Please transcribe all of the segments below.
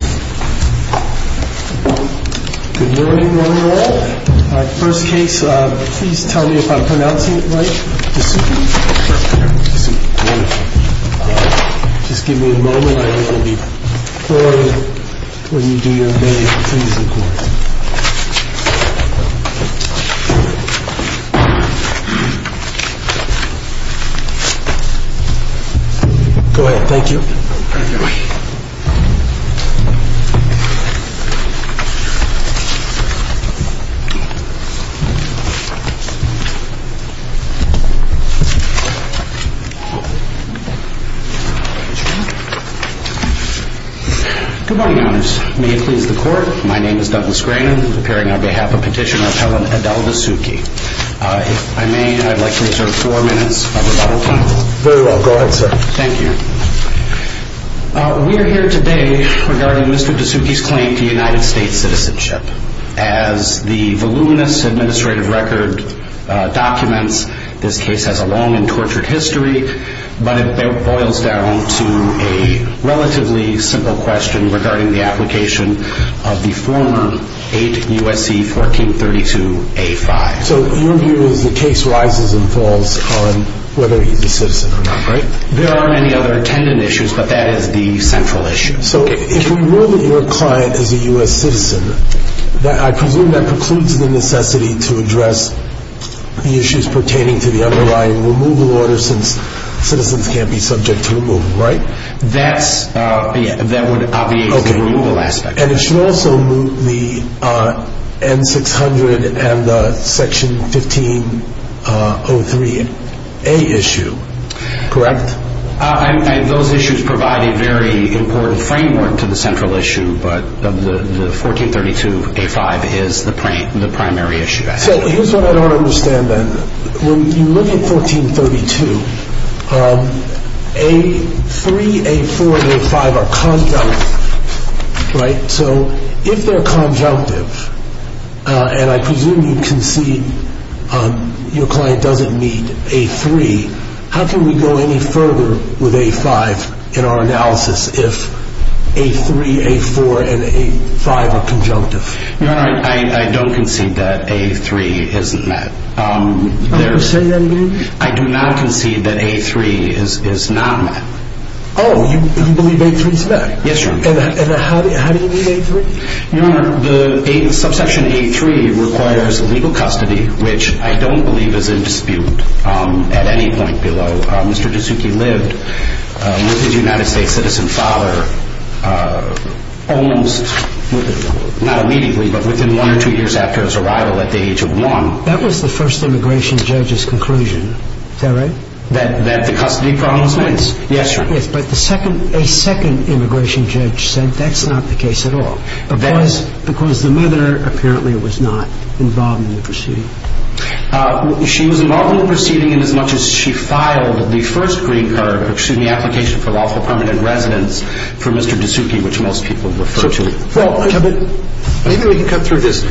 Good morning, one and all. First case, please tell me if I'm pronouncing it right. Just give me a moment. I will be glorying when you do your thing, please, in court. Go ahead, thank you. Good morning, your honors. May it please the court, my name is Douglas Grannon, appearing on behalf of Petitioner Appellant Adel Dessouki. If I may, I'd like to reserve four minutes of rebuttal time. Very well, go ahead, sir. Thank you. We are here today regarding Mr. Dessouki's claim to United States citizenship. As the voluminous administrative record documents, this case has a long and tortured history, but it boils down to a relatively simple question regarding the application of the former 8 U.S.C. 1432-A-5. So your view is the case rises and falls on whether he's a citizen or not, right? There aren't any other attendant issues, but that is the central issue. So if we rule that your client is a U.S. citizen, I presume that precludes the necessity to address the issues pertaining to the underlying removal order, since citizens can't be subject to removal, right? That would obviate the removal aspect. And it should also move the N-600 and the Section 1503-A issue, correct? Those issues provide a very important framework to the central issue, but the 1432-A-5 is the primary issue. So here's what I don't understand, then. When you look at 1432, A-3, A-4, and A-5 are conjunctive, right? So if they're conjunctive, and I presume you concede your client doesn't need A-3, how can we go any further with A-5 in our analysis if A-3, A-4, and A-5 are conjunctive? Your Honor, I don't concede that A-3 isn't met. You're not going to say that again? I do not concede that A-3 is not met. Oh, you believe A-3 is met? Yes, Your Honor. And how do you mean A-3? Your Honor, the Subsection A-3 requires legal custody, which I don't believe is in dispute at any point below. Mr. Suzuki lived with his United States citizen father, not immediately, but within one or two years after his arrival at the age of one. That was the first immigration judge's conclusion, is that right? That the custody problem was met? Yes. Yes, Your Honor. Yes, but a second immigration judge said that's not the case at all, because the mother apparently was not involved in the proceeding. She was involved in the proceeding inasmuch as she filed the first green card, excuse me, application for lawful permanent residence for Mr. Suzuki, which most people refer to. Well, maybe we can cut through this.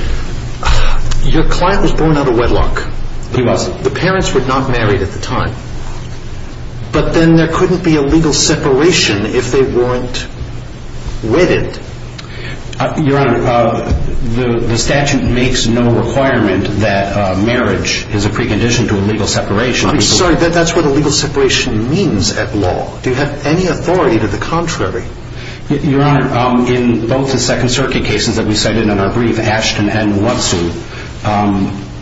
Your client was born out of wedlock. He was. The parents were not married at the time, but then there couldn't be a legal separation if they weren't wedded. Your Honor, the statute makes no requirement that marriage is a precondition to a legal separation. I'm sorry, that's what a legal separation means at law. Do you have any authority to the contrary? Your Honor, in both the Second Circuit cases that we cited in our brief, Ashton and Watson,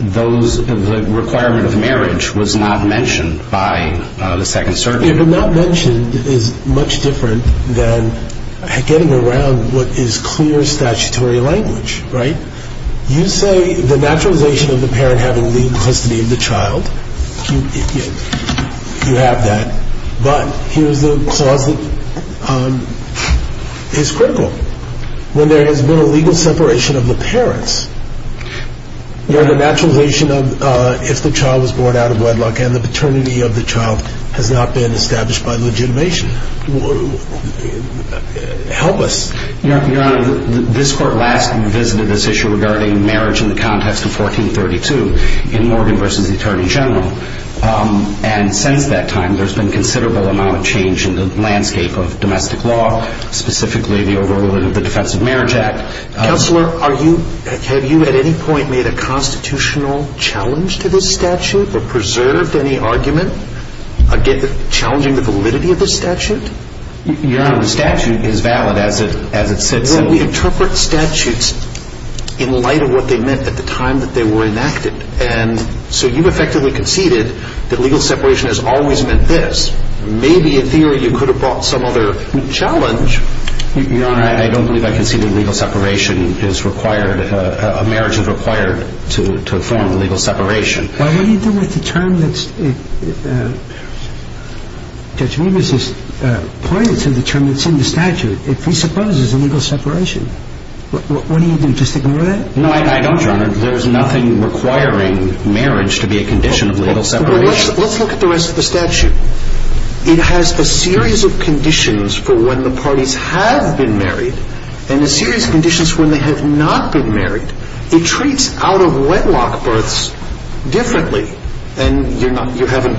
the requirement of marriage was not mentioned by the Second Circuit. Your Honor, not mentioned is much different than getting around what is clear statutory language, right? You say the naturalization of the parent having legal custody of the child, you have that, but here's the clause that is critical. When there has been a legal separation of the parents, Your Honor, the naturalization of if the child was born out of wedlock and the paternity of the child has not been established by legitimation, help us. Your Honor, this Court last visited this issue regarding marriage in the context of 1432 in Morgan v. Attorney General, and since that time there's been considerable amount of change in the landscape of domestic law, specifically the overruling of the Defense of Marriage Act. Counselor, have you at any point made a constitutional challenge to this statute or preserved any argument challenging the validity of this statute? Your Honor, the statute is valid as it sits. Well, we interpret statutes in light of what they meant at the time that they were enacted, and so you've effectively conceded that legal separation has always meant this. Maybe in theory you could have brought some other challenge. Your Honor, I don't believe I conceded legal separation is required. A marriage is required to form legal separation. Well, what do you do with the term that's in the statute? It presupposes a legal separation. What do you do, just ignore that? No, I don't, Your Honor. There's nothing requiring marriage to be a condition of legal separation. Let's look at the rest of the statute. It has a series of conditions for when the parties have been married and a series of conditions for when they have not been married. It treats out-of-wedlock births differently, and you haven't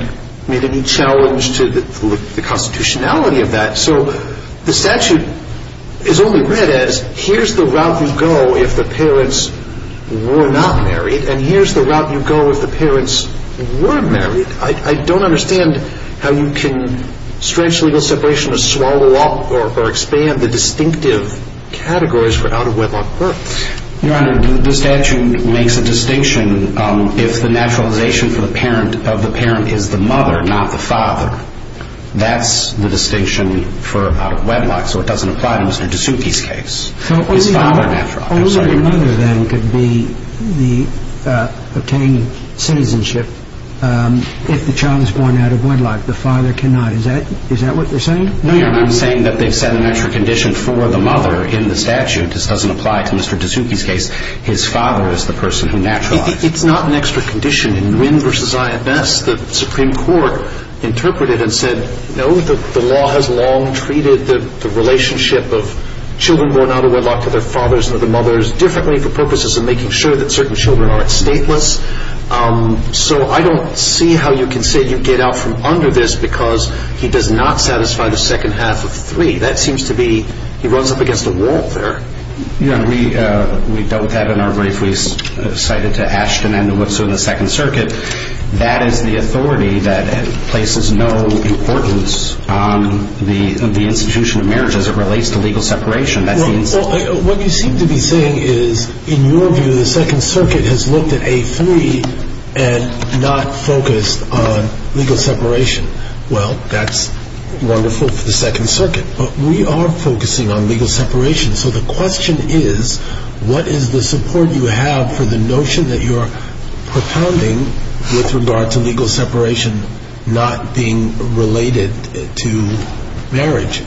made any challenge to the constitutionality of that. So the statute is only read as here's the route you go if the parents were not married, and here's the route you go if the parents were married. I don't understand how you can stretch legal separation to swallow up or expand the distinctive categories for out-of-wedlock births. Your Honor, the statute makes a distinction if the naturalization of the parent is the mother, not the father. That's the distinction for out-of-wedlock, so it doesn't apply to Mr. D'Souky's case. So only the mother, then, could obtain citizenship if the child is born out-of-wedlock. The father cannot. Is that what you're saying? No, Your Honor. I'm saying that they've set an extra condition for the mother in the statute. This doesn't apply to Mr. D'Souky's case. His father is the person who naturalized. It's not an extra condition. In Wynn v. Zion Best, the Supreme Court interpreted and said, no, the law has long treated the relationship of children born out-of-wedlock to their fathers and to their mothers differently for purposes of making sure that certain children are not stateless. So I don't see how you can say you get out from under this because he does not satisfy the second half of three. That seems to be he runs up against a wall there. Your Honor, we dealt with that in our brief. We cited to Ashton and to Woodson in the Second Circuit. That is the authority that places no importance on the institution of marriage as it relates to legal separation. What you seem to be saying is, in your view, the Second Circuit has looked at A3 and not focused on legal separation. Well, that's wonderful for the Second Circuit, but we are focusing on legal separation. So the question is, what is the support you have for the notion that you're propounding with regard to legal separation not being related to marriage?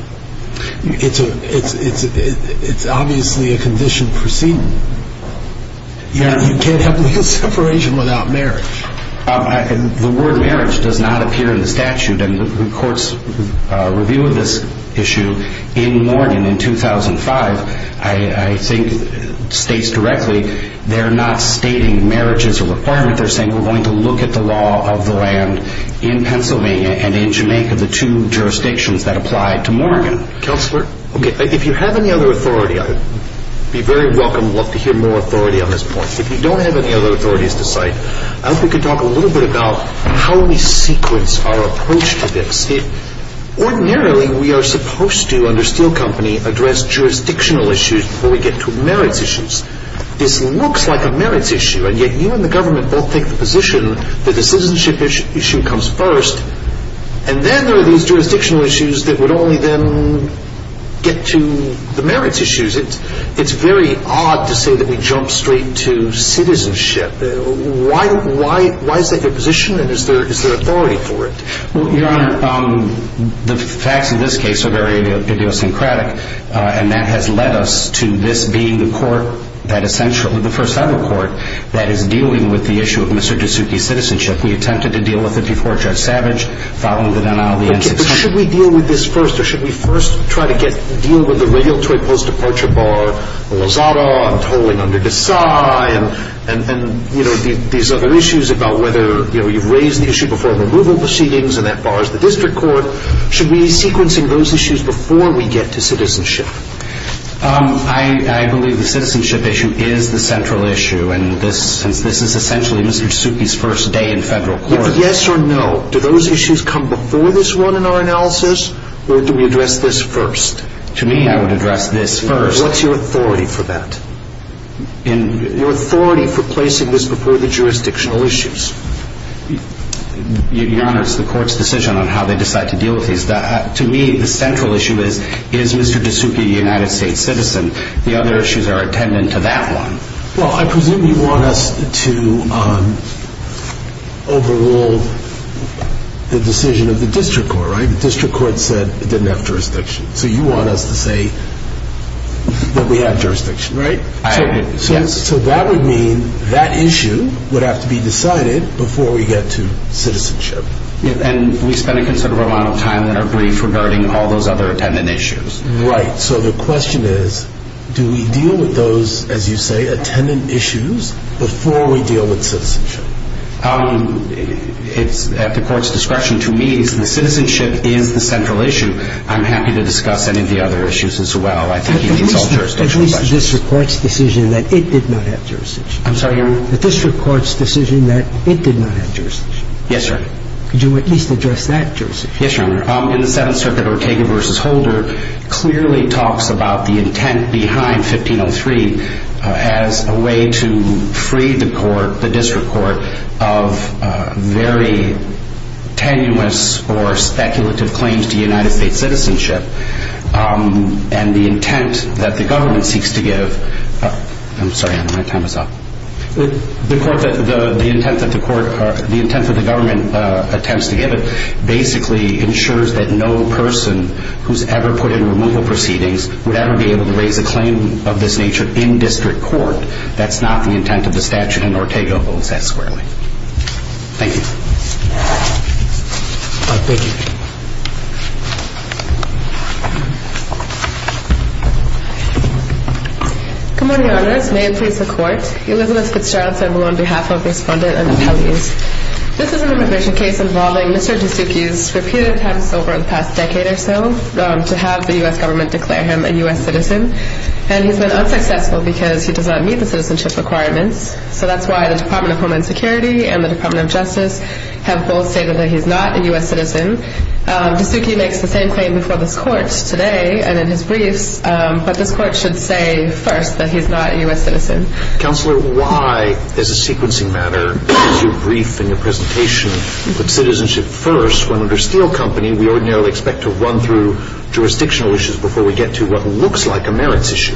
It's obviously a condition proceeding. You can't have legal separation without marriage. The word marriage does not appear in the statute, and the Court's review of this issue in Morgan in 2005, I think, states directly they're not stating marriages are required. They're saying we're going to look at the law of the land in Pennsylvania and in Jamaica, the two jurisdictions that apply to Morgan. Counselor? If you have any other authority, I'd be very welcome to hear more authority on this point. If you don't have any other authorities to cite, I hope we can talk a little bit about how we sequence our approach to this. Ordinarily, we are supposed to, under Steele Company, address jurisdictional issues before we get to merits issues. This looks like a merits issue, and yet you and the government both take the position that the citizenship issue comes first, and then there are these jurisdictional issues that would only then get to the merits issues. It's very odd to say that we jump straight to citizenship. Why is that your position, and is there authority for it? Your Honor, the facts in this case are very idiosyncratic, and that has led us to this being the court that essentially, the first federal court, that is dealing with the issue of Mr. DeSutti's citizenship. We attempted to deal with it before Judge Savage, following the denial of the N-600. Okay, but should we deal with this first, or should we first try to get, deal with the regulatory post-departure bar of Lozada and tolling under Desai and, you know, these other issues about whether, you know, you've raised the issue before removal proceedings, and that bar is the district court. Should we be sequencing those issues before we get to citizenship? I believe the citizenship issue is the central issue, and this is essentially Mr. DeSutti's first day in federal court. Yes or no, do those issues come before this one in our analysis, or do we address this first? To me, I would address this first. What's your authority for that? Your authority for placing this before the jurisdictional issues? Your Honor, it's the court's decision on how they decide to deal with these. To me, the central issue is, is Mr. DeSutti a United States citizen? The other issues are attendant to that one. Well, I presume you want us to overrule the decision of the district court, right? The district court said it didn't have jurisdiction, so you want us to say that we have jurisdiction, right? I agree, yes. So that would mean that issue would have to be decided before we get to citizenship. And we spend a considerable amount of time in our brief regarding all those other attendant issues. Right. So the question is, do we deal with those, as you say, attendant issues before we deal with citizenship? It's at the court's discretion. To me, the citizenship is the central issue. I'm happy to discuss any of the other issues as well. At least the district court's decision that it did not have jurisdiction. I'm sorry, Your Honor? The district court's decision that it did not have jurisdiction. Yes, Your Honor. Could you at least address that jurisdiction? Yes, Your Honor. In the Seventh Circuit, Ortega v. Holder clearly talks about the intent behind 1503 as a way to free the court, the district court, of very tenuous or speculative claims to United States citizenship. And the intent that the government seeks to give... I'm sorry, Your Honor. My time is up. The intent that the government attempts to give it basically ensures that no person who's ever put in removal proceedings would ever be able to raise a claim of this nature in district court. That's not the intent of the statute, and Ortega holds that squarely. Thank you. Thank you. Good morning, Your Honors. May it please the Court. Elizabeth Fitzgerald Sandoval on behalf of Respondent and Appellees. This is an immigration case involving Mr. Disuki's repeated attempts over the past decade or so to have the U.S. government declare him a U.S. citizen, and he's been unsuccessful because he does not meet the citizenship requirements. So that's why the Department of Homeland Security and the Department of Justice have both stated that he's not a U.S. citizen. Disuki makes the same claim before this Court, today, and in his briefs, but this Court should say first that he's not a U.S. citizen. Counselor, why, as a sequencing matter, in your brief and your presentation, you put citizenship first when, under Steele Company, we ordinarily expect to run through jurisdictional issues before we get to what looks like a merits issue?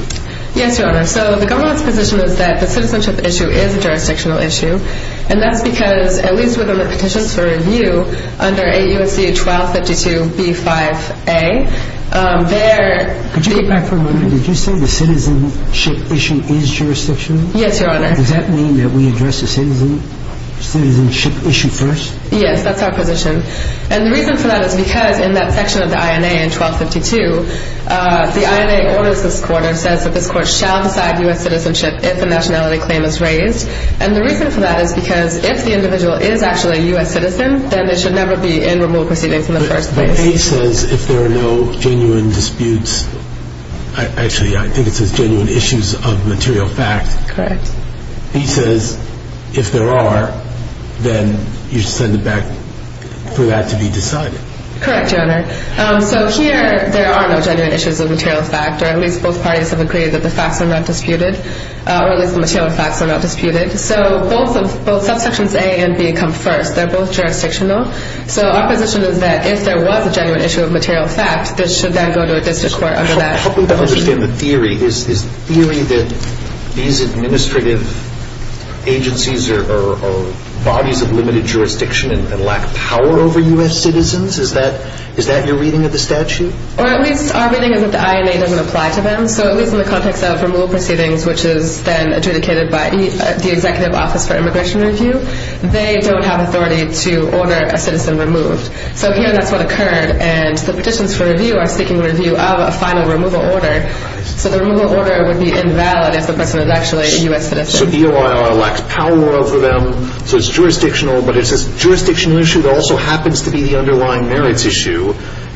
Yes, Your Honor. So the government's position is that the citizenship issue is a jurisdictional issue, and that's because, at least with the petitions for review under AUC-1252-B-5A, there... Could you go back for a moment? Did you say the citizenship issue is jurisdictional? Yes, Your Honor. Does that mean that we address the citizenship issue first? Yes, that's our position. And the reason for that is because, in that section of the INA in 1252, the INA orders this Court, or says that this Court shall decide U.S. citizenship if a nationality claim is raised. And the reason for that is because if the individual is actually a U.S. citizen, then they should never be in removal proceedings in the first place. But he says if there are no genuine disputes... Actually, I think it says genuine issues of material fact. Correct. He says if there are, then you should send it back for that to be decided. Correct, Your Honor. So here, there are no genuine issues of material fact, or at least both parties have agreed that the facts are not disputed, or at least the material facts are not disputed. So both subsections A and B come first. They're both jurisdictional. So our position is that if there was a genuine issue of material fact, this should then go to a district court under that. Help me to understand the theory. Is the theory that these administrative agencies are bodies of limited jurisdiction and lack power over U.S. citizens? Is that your reading of the statute? Or at least our reading is that the INA doesn't apply to them. So at least in the context of removal proceedings, which is then adjudicated by the Executive Office for Immigration Review, they don't have authority to order a citizen removed. So here, that's what occurred. And the petitions for review are seeking review of a final removal order. So the removal order would be invalid if the person is actually a U.S. citizen. So the OIR lacks power over them. So it's jurisdictional, but it's a jurisdictional issue that also happens to be the underlying merits issue.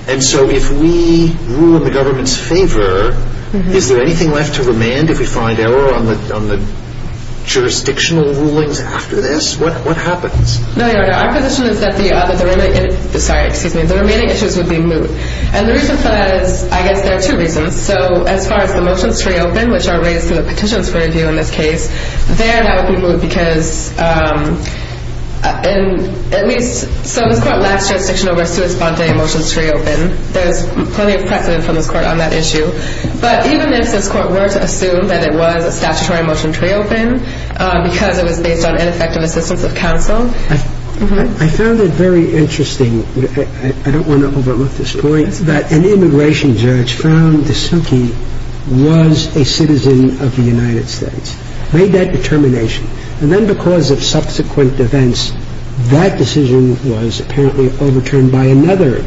And so if we rule in the government's favor, is there anything left to remand if we find error on the jurisdictional rulings after this? What happens? No, Your Honor. Our position is that the remaining issues would be moved. And the reason for that is I guess there are two reasons. So as far as the motions to reopen, which are raised through the petitions for review in this case, there that would be moved because, at least, so this Court lacks jurisdiction over a sui sponte motion to reopen. There's plenty of precedent from this Court on that issue. But even if this Court were to assume that it was a statutory motion to reopen because it was based on ineffective assistance of counsel. I found it very interesting. I don't want to overlook this point, that an immigration judge found Dasuki was a citizen of the United States, made that determination. And then because of subsequent events, that decision was apparently overturned by another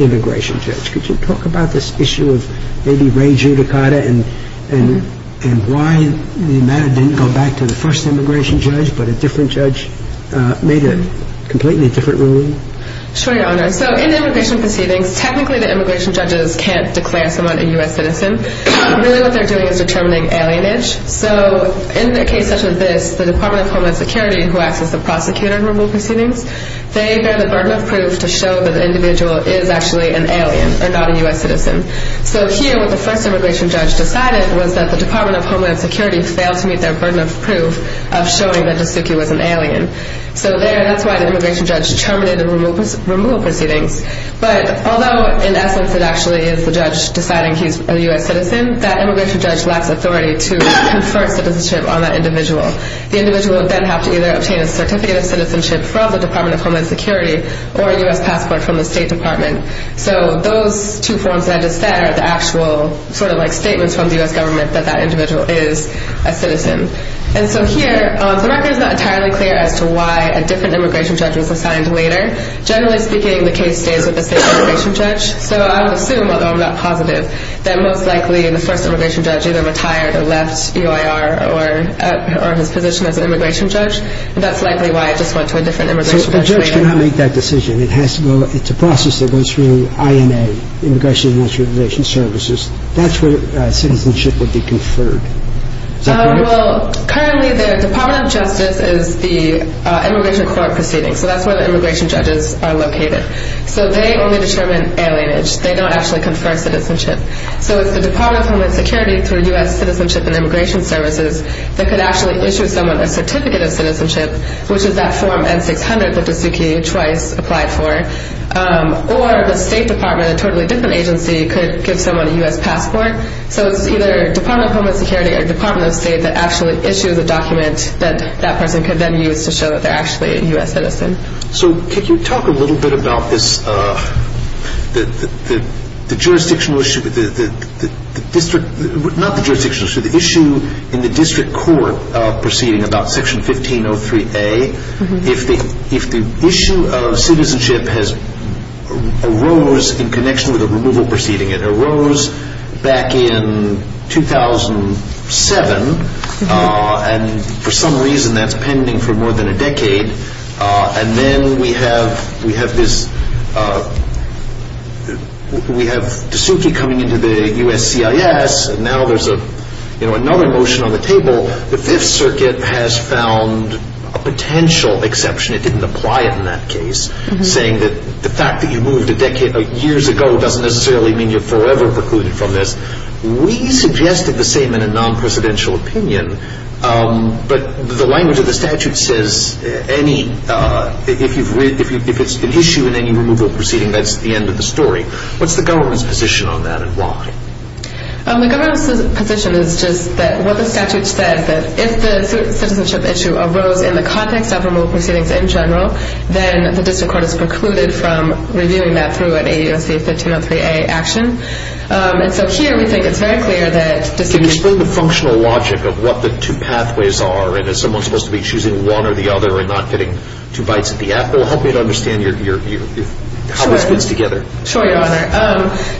immigration judge. Could you talk about this issue of maybe Ray Giudicata and why the matter didn't go back to the first immigration judge but a different judge made a completely different ruling? Sure, Your Honor. So in immigration proceedings, technically the immigration judges can't declare someone a U.S. citizen. Really what they're doing is determining alienage. So in a case such as this, the Department of Homeland Security, who acts as the prosecutor in removal proceedings, they bear the burden of proof to show that the individual is actually an alien and not a U.S. citizen. So here, what the first immigration judge decided was that the Department of Homeland Security failed to meet their burden of proof of showing that Dasuki was an alien. So there, that's why the immigration judge terminated the removal proceedings. But although, in essence, it actually is the judge deciding he's a U.S. citizen, that immigration judge lacks authority to confer citizenship on that individual. The individual would then have to either obtain a certificate of citizenship from the Department of Homeland Security or a U.S. passport from the State Department. So those two forms that I just said are the actual sort of like statements from the U.S. government that that individual is a citizen. And so here, the record is not entirely clear as to why a different immigration judge was assigned later. Generally speaking, the case stays with the same immigration judge. So I would assume, although I'm not positive, that most likely the first immigration judge either retired or left UIR or his position as an immigration judge. That's likely why it just went to a different immigration judge later. So the judge cannot make that decision. It's a process that goes through INA, Immigration and Immigration Services. That's where citizenship would be conferred. Is that correct? Well, currently, the Department of Justice is the immigration court proceeding. So that's where the immigration judges are located. So they only determine alienage. They don't actually confer citizenship. So it's the Department of Homeland Security through U.S. Citizenship and Immigration Services that could actually issue someone a Certificate of Citizenship, which is that Form N-600 that Suzuki twice applied for. Or the State Department, a totally different agency, could give someone a U.S. passport. So it's either Department of Homeland Security or Department of State that actually issues a document that that person could then use to show that they're actually a U.S. citizen. So could you talk a little bit about the issue in the district court proceeding about Section 1503A? If the issue of citizenship arose in connection with a removal proceeding, it arose back in 2007, and for some reason that's pending for more than a decade, and then we have this – we have Suzuki coming into the U.S.CIS, and now there's another motion on the table. The Fifth Circuit has found a potential exception. It didn't apply in that case, saying that the fact that you moved a decade – years ago doesn't necessarily mean you're forever precluded from this. We suggested the same in a non-presidential opinion, but the language of the statute says any – if it's an issue in any removal proceeding, that's the end of the story. What's the government's position on that and why? The government's position is just that what the statute said, that if the citizenship issue arose in the context of removal proceedings in general, then the district court is precluded from reviewing that through an AUSC 1503A action. And so here we think it's very clear that – Can you explain the functional logic of what the two pathways are, and is someone supposed to be choosing one or the other and not getting two bites at the apple? Help me to understand how this fits together. Sure, Your Honor.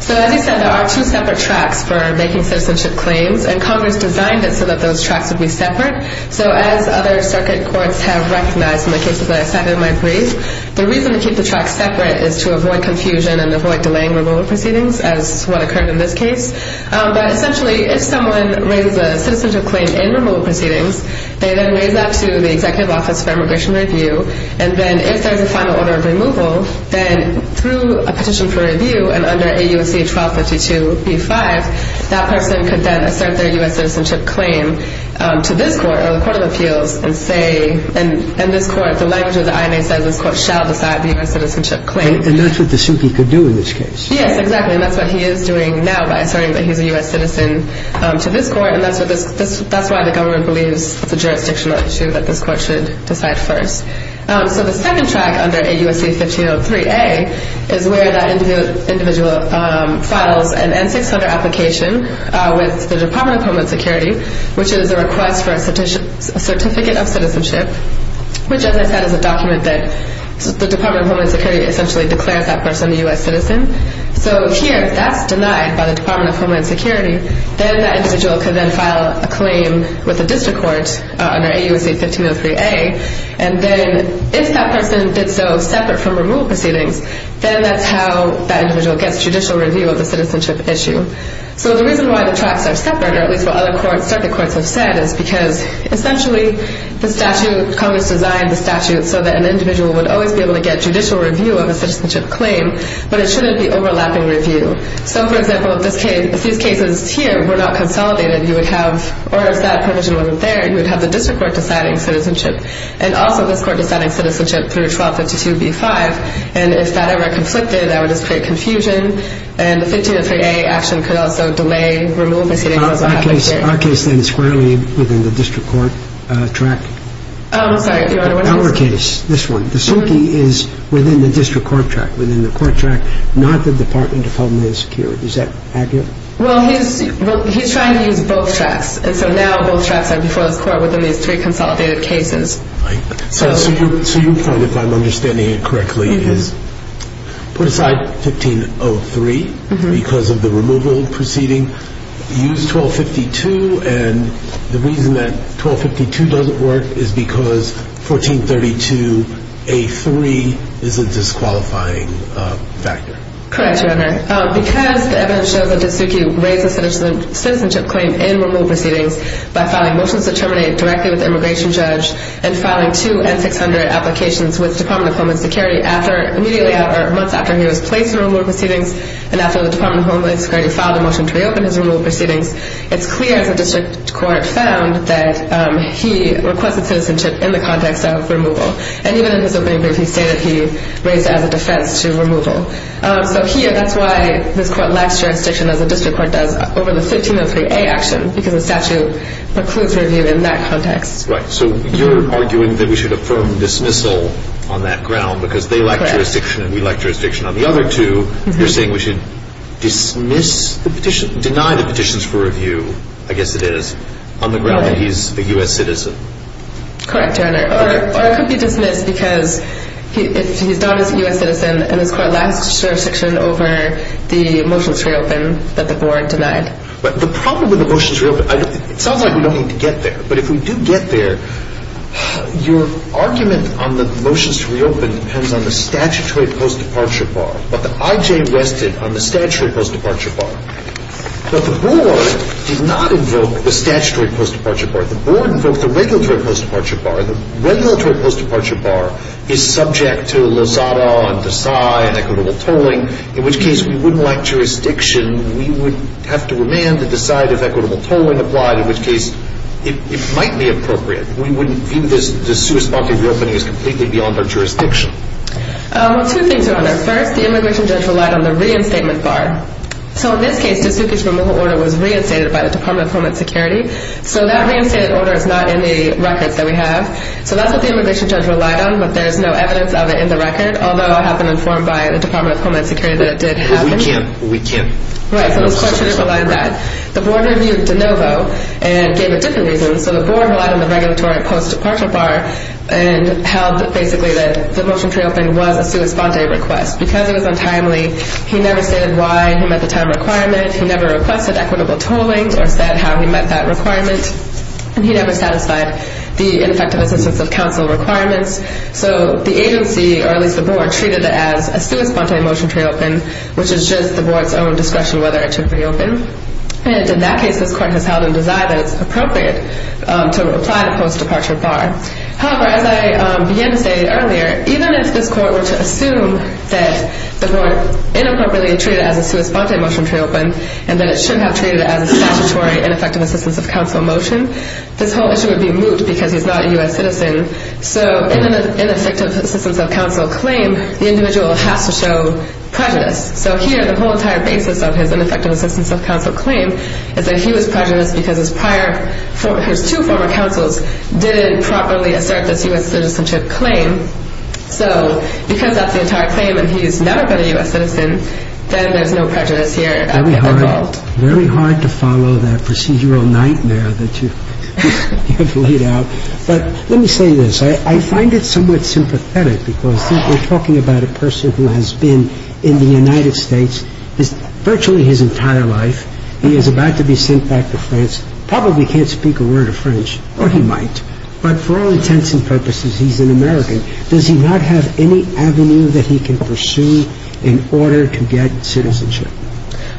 So as I said, there are two separate tracks for making citizenship claims, and Congress designed it so that those tracks would be separate. So as other circuit courts have recognized in the cases that I cited in my brief, the reason to keep the tracks separate is to avoid confusion and avoid delaying removal proceedings, as what occurred in this case. But essentially, if someone raises a citizenship claim in removal proceedings, they then raise that to the Executive Office for Immigration Review. And then if there's a final order of removal, then through a petition for review and under AUSC 1252B5, that person could then assert their U.S. citizenship claim to this court or the Court of Appeals and say – and this court, the language of the INA says this court shall decide the U.S. citizenship claim. And that's what the SUCI could do in this case. Yes, exactly. And that's what he is doing now by asserting that he's a U.S. citizen to this court. And that's why the government believes it's a jurisdictional issue that this court should decide first. So the second track under AUSC 1503A is where that individual files an N-600 application with the Department of Homeland Security, which is a request for a certificate of citizenship, which, as I said, is a document that the Department of Homeland Security essentially declares that person a U.S. citizen. So here, if that's denied by the Department of Homeland Security, then that individual could then file a claim with the district court under AUSC 1503A. And then if that person did so separate from removal proceedings, then that's how that individual gets judicial review of the citizenship issue. So the reason why the tracks are separate, or at least what other circuit courts have said, is because essentially the statute – Congress designed the statute so that an individual would always be able to get judicial review of a citizenship claim, but it shouldn't be overlapping review. So, for example, if these cases here were not consolidated, you would have – or if that provision wasn't there, you would have the district court deciding citizenship and also this court deciding citizenship through 1252b-5. And if that ever conflicted, that would just create confusion, and the 1503A action could also delay removal proceedings as well. Our case, then, is squarely within the district court track. Oh, I'm sorry, Your Honor. Our case, this one. The suitee is within the district court track, within the court track, not the Department of Homeland Security. Is that accurate? Well, he's trying to use both tracks. And so now both tracks are before this court within these three consolidated cases. So your point, if I'm understanding it correctly, is put aside 1503 because of the removal proceeding, used 1252, and the reason that 1252 doesn't work is because 1432a-3 is a disqualifying factor. Correct, Your Honor. Because the evidence shows that the suitee raised a citizenship claim in removal proceedings by filing motions to terminate directly with the immigration judge and filing two N-600 applications with the Department of Homeland Security immediately or months after he was placed in removal proceedings and after the Department of Homeland Security filed a motion to reopen his removal proceedings, it's clear, as the district court found, that he requested citizenship in the context of removal. And even in his opening brief, he stated he raised it as a defense to removal. So here, that's why this court lacks jurisdiction, as the district court does, over the 1503a action because the statute precludes review in that context. Right. So you're arguing that we should affirm dismissal on that ground because they lack jurisdiction and we lack jurisdiction on the other two. You're saying we should dismiss the petition, deny the petitions for review, I guess it is, on the ground that he's a U.S. citizen. Correct, Your Honor. Or it could be dismissed because he's not a U.S. citizen and this court lacks jurisdiction over the motions to reopen that the board denied. The problem with the motions to reopen, it sounds like we don't need to get there, but if we do get there, your argument on the motions to reopen depends on the statutory post-departure bar. But the I.J. rested on the statutory post-departure bar. But the board did not invoke the statutory post-departure bar. The board invoked the regulatory post-departure bar. The regulatory post-departure bar is subject to Lozada and Desai and equitable tolling, in which case we wouldn't lack jurisdiction. We would have to remand to decide if equitable tolling applied, in which case it might be appropriate. We wouldn't view this sui sponte reopening as completely beyond our jurisdiction. Two things, Your Honor. First, the immigration judge relied on the reinstatement bar. So in this case, the suicide removal order was reinstated by the Department of Homeland Security. So that reinstated order is not in the records that we have. So that's what the immigration judge relied on, but there's no evidence of it in the record, although I have been informed by the Department of Homeland Security that it did happen. We can't, we can't. Right, so this court should have relied on that. The board reviewed de novo and gave it different reasons. So the board relied on the regulatory post-departure bar and held basically that the motion to reopen was a sui sponte request. Because it was untimely, he never stated why he met the time requirement. He never requested equitable tolling or said how he met that requirement. And he never satisfied the ineffective assistance of counsel requirements. So the agency, or at least the board, treated it as a sui sponte motion to reopen, which is just the board's own discretion whether it should reopen. And in that case, this court has held in Desai that it's appropriate to apply the post-departure bar. However, as I began to say earlier, even if this court were to assume that the board inappropriately treated it as a sui sponte motion to reopen and that it should have treated it as a statutory ineffective assistance of counsel motion, this whole issue would be moot because he's not a U.S. citizen. So in an ineffective assistance of counsel claim, the individual has to show prejudice. So here, the whole entire basis of his ineffective assistance of counsel claim is that he was prejudiced because his two former counsels didn't properly assert this U.S. citizenship claim. So because that's the entire claim and he's never been a U.S. citizen, then there's no prejudice here at all. Very hard to follow that procedural nightmare that you have laid out. But let me say this. I find it somewhat sympathetic because we're talking about a person who has been in the United States virtually his entire life. He is about to be sent back to France, probably can't speak a word of French, or he might, but for all intents and purposes, he's an American. Does he not have any avenue that he can pursue in order to get citizenship?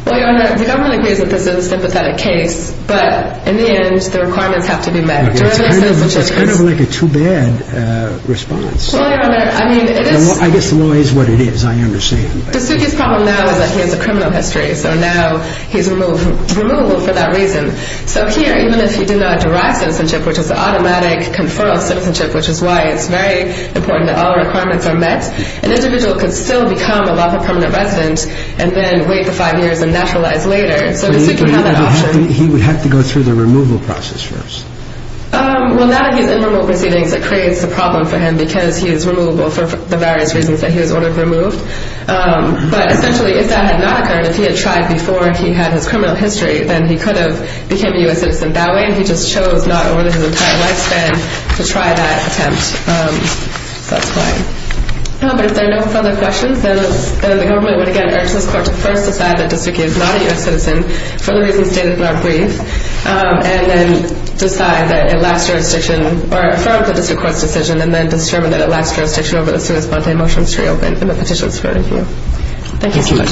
Well, Your Honor, the government agrees that this is a sympathetic case, but in the end, the requirements have to be met. It's kind of like a too bad response. Well, Your Honor, I mean, it is... I guess the law is what it is, I understand. De Succhi's problem now is that he has a criminal history, so now he's removable for that reason. So here, even if he did not derive citizenship, which is an automatic conferral of citizenship, which is why it's very important that all requirements are met, an individual could still become a lawful permanent resident and then wait the five years and naturalize later. So De Succhi had that option. He would have to go through the removal process first. Well, now that he's in remote proceedings, it creates a problem for him because he is removable for the various reasons that he was ordered removed. But essentially, if that had not occurred, if he had tried before he had his criminal history, then he could have become a U.S. citizen that way, and he just chose not to order his entire lifespan to try that attempt. So that's fine. But if there are no further questions, then the government would, again, urge this court to first decide that De Succhi is not a U.S. citizen for the reasons stated in our brief and then decide that it lacks jurisdiction or affirm the district court's decision and then determine that it lacks jurisdiction as soon as Bontay motions to reopen, and the petition is forwarded to you. Thank you so much.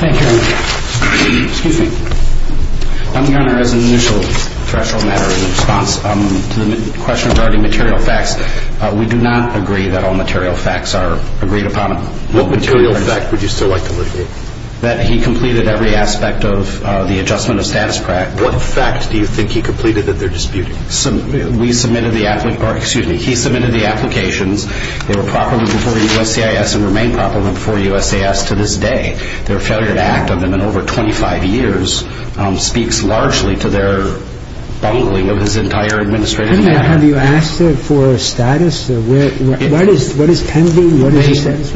Thank you. Excuse me. I'm here as an initial threshold matter in response to the question regarding material facts. We do not agree that all material facts are agreed upon. What material fact would you still like to look at? That he completed every aspect of the adjustment of status quo. What fact do you think he completed that they're disputing? We submitted the application or, excuse me, he submitted the applications. They were properly before the USCIS and remain properly before USCIS to this day. Their failure to act on them in over 25 years speaks largely to their bungling of his entire administrative matter. Have you asked them for status? What is pending?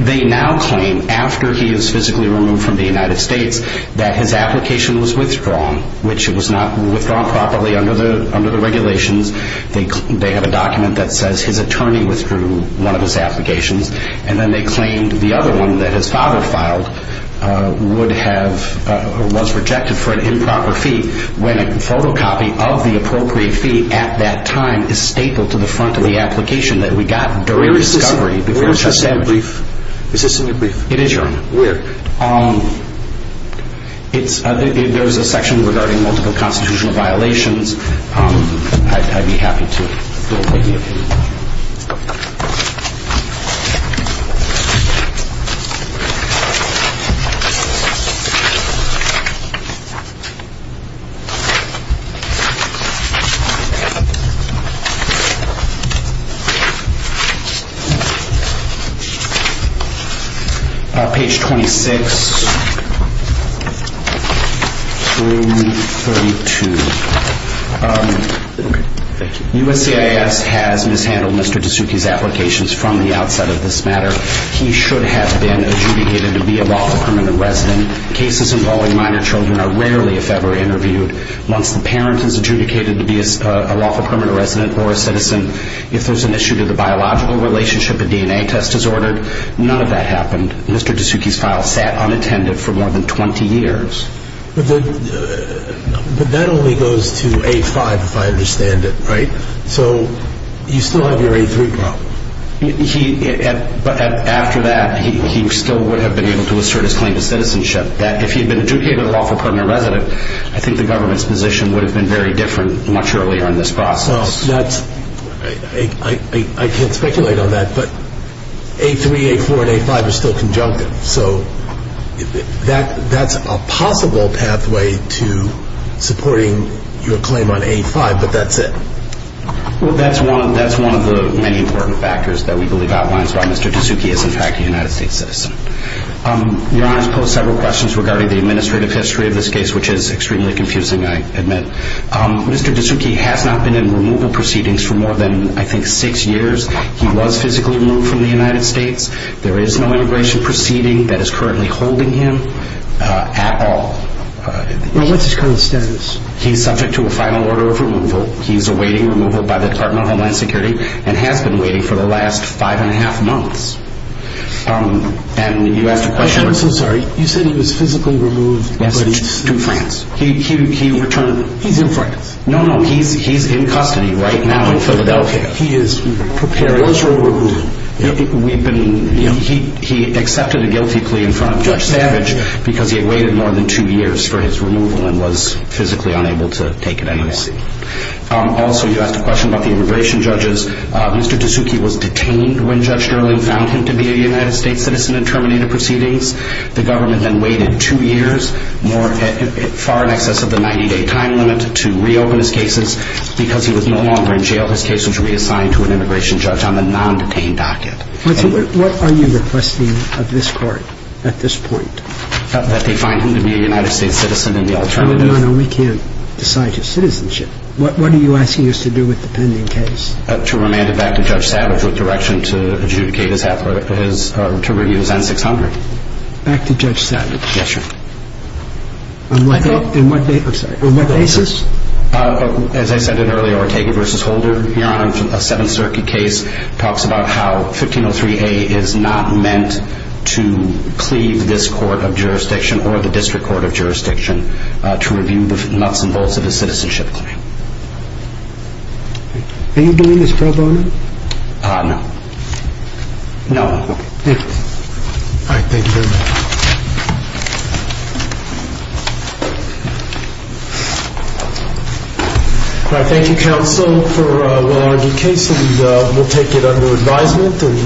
They now claim after he is physically removed from the United States that his application was withdrawn, which it was not withdrawn properly under the regulations. They have a document that says his attorney withdrew one of his applications, and then they claimed the other one that his father filed was rejected for an improper fee when a photocopy of the appropriate fee at that time is stapled to the front of the application that we got during the discovery before the testimony. Is this in your brief? It is, Your Honor. Where? There is a section regarding multiple constitutional violations. I'd be happy to look at you. Page 26, Room 32. Okay. Thank you. USCIS has mishandled Mr. Tasuki's applications from the outset of this matter. He should have been adjudicated to be a lawful permanent resident. Cases involving minor children are rarely, if ever, interviewed. Once the parent is adjudicated to be a lawful permanent resident or a citizen, if there's an issue to the biological relationship, a DNA test is ordered. None of that happened. Mr. Tasuki's file sat unattended for more than 20 years. But that only goes to 8-5, if I understand it, right? So you still have your 8-3 problem. After that, he still would have been able to assert his claim to citizenship, that if he had been adjudicated a lawful permanent resident, I think the government's position would have been very different much earlier in this process. I can't speculate on that, but 8-3, 8-4, and 8-5 are still conjunctive. So that's a possible pathway to supporting your claim on 8-5, but that's it. Well, that's one of the many important factors that we believe outlines why Mr. Tasuki is, in fact, a United States citizen. Your Honor has posed several questions regarding the administrative history of this case, which is extremely confusing, I admit. Mr. Tasuki has not been in removal proceedings for more than, I think, six years. He was physically removed from the United States. There is no immigration proceeding that is currently holding him at all. Well, what's his current status? He's subject to a final order of removal. He's awaiting removal by the Department of Homeland Security and has been waiting for the last five and a half months. And you asked a question? I'm so sorry. You said he was physically removed. Yes, to France. He returned. He's in France. No, no, he's in custody right now in Philadelphia. He is prepared. He was removed. He accepted a guilty plea in front of Judge Savage because he had waited more than two years for his removal and was physically unable to take it anyway. Also, you asked a question about the immigration judges. Mr. Tasuki was detained when Judge Sterling found him to be a United States citizen in terminated proceedings. The government then waited two years, far in excess of the 90-day time limit, to reopen his cases because he was no longer in jail. His case was reassigned to an immigration judge on the non-detained docket. What are you requesting of this Court at this point? That they find him to be a United States citizen in the alternative. No, no, we can't decide his citizenship. What are you asking us to do with the pending case? To remand it back to Judge Savage with direction to adjudicate his effort to review his N-600. Back to Judge Savage? Yes, sir. On what basis? As I said earlier, Ortega v. Holder, here on a Seventh Circuit case, talks about how 1503A is not meant to cleave this Court of Jurisdiction or the District Court of Jurisdiction to review the nuts and bolts of a citizenship claim. Do you believe this problem? No. No. Thank you very much. Thank you, Counsel, for a well-argued case. We'll take it under advisement.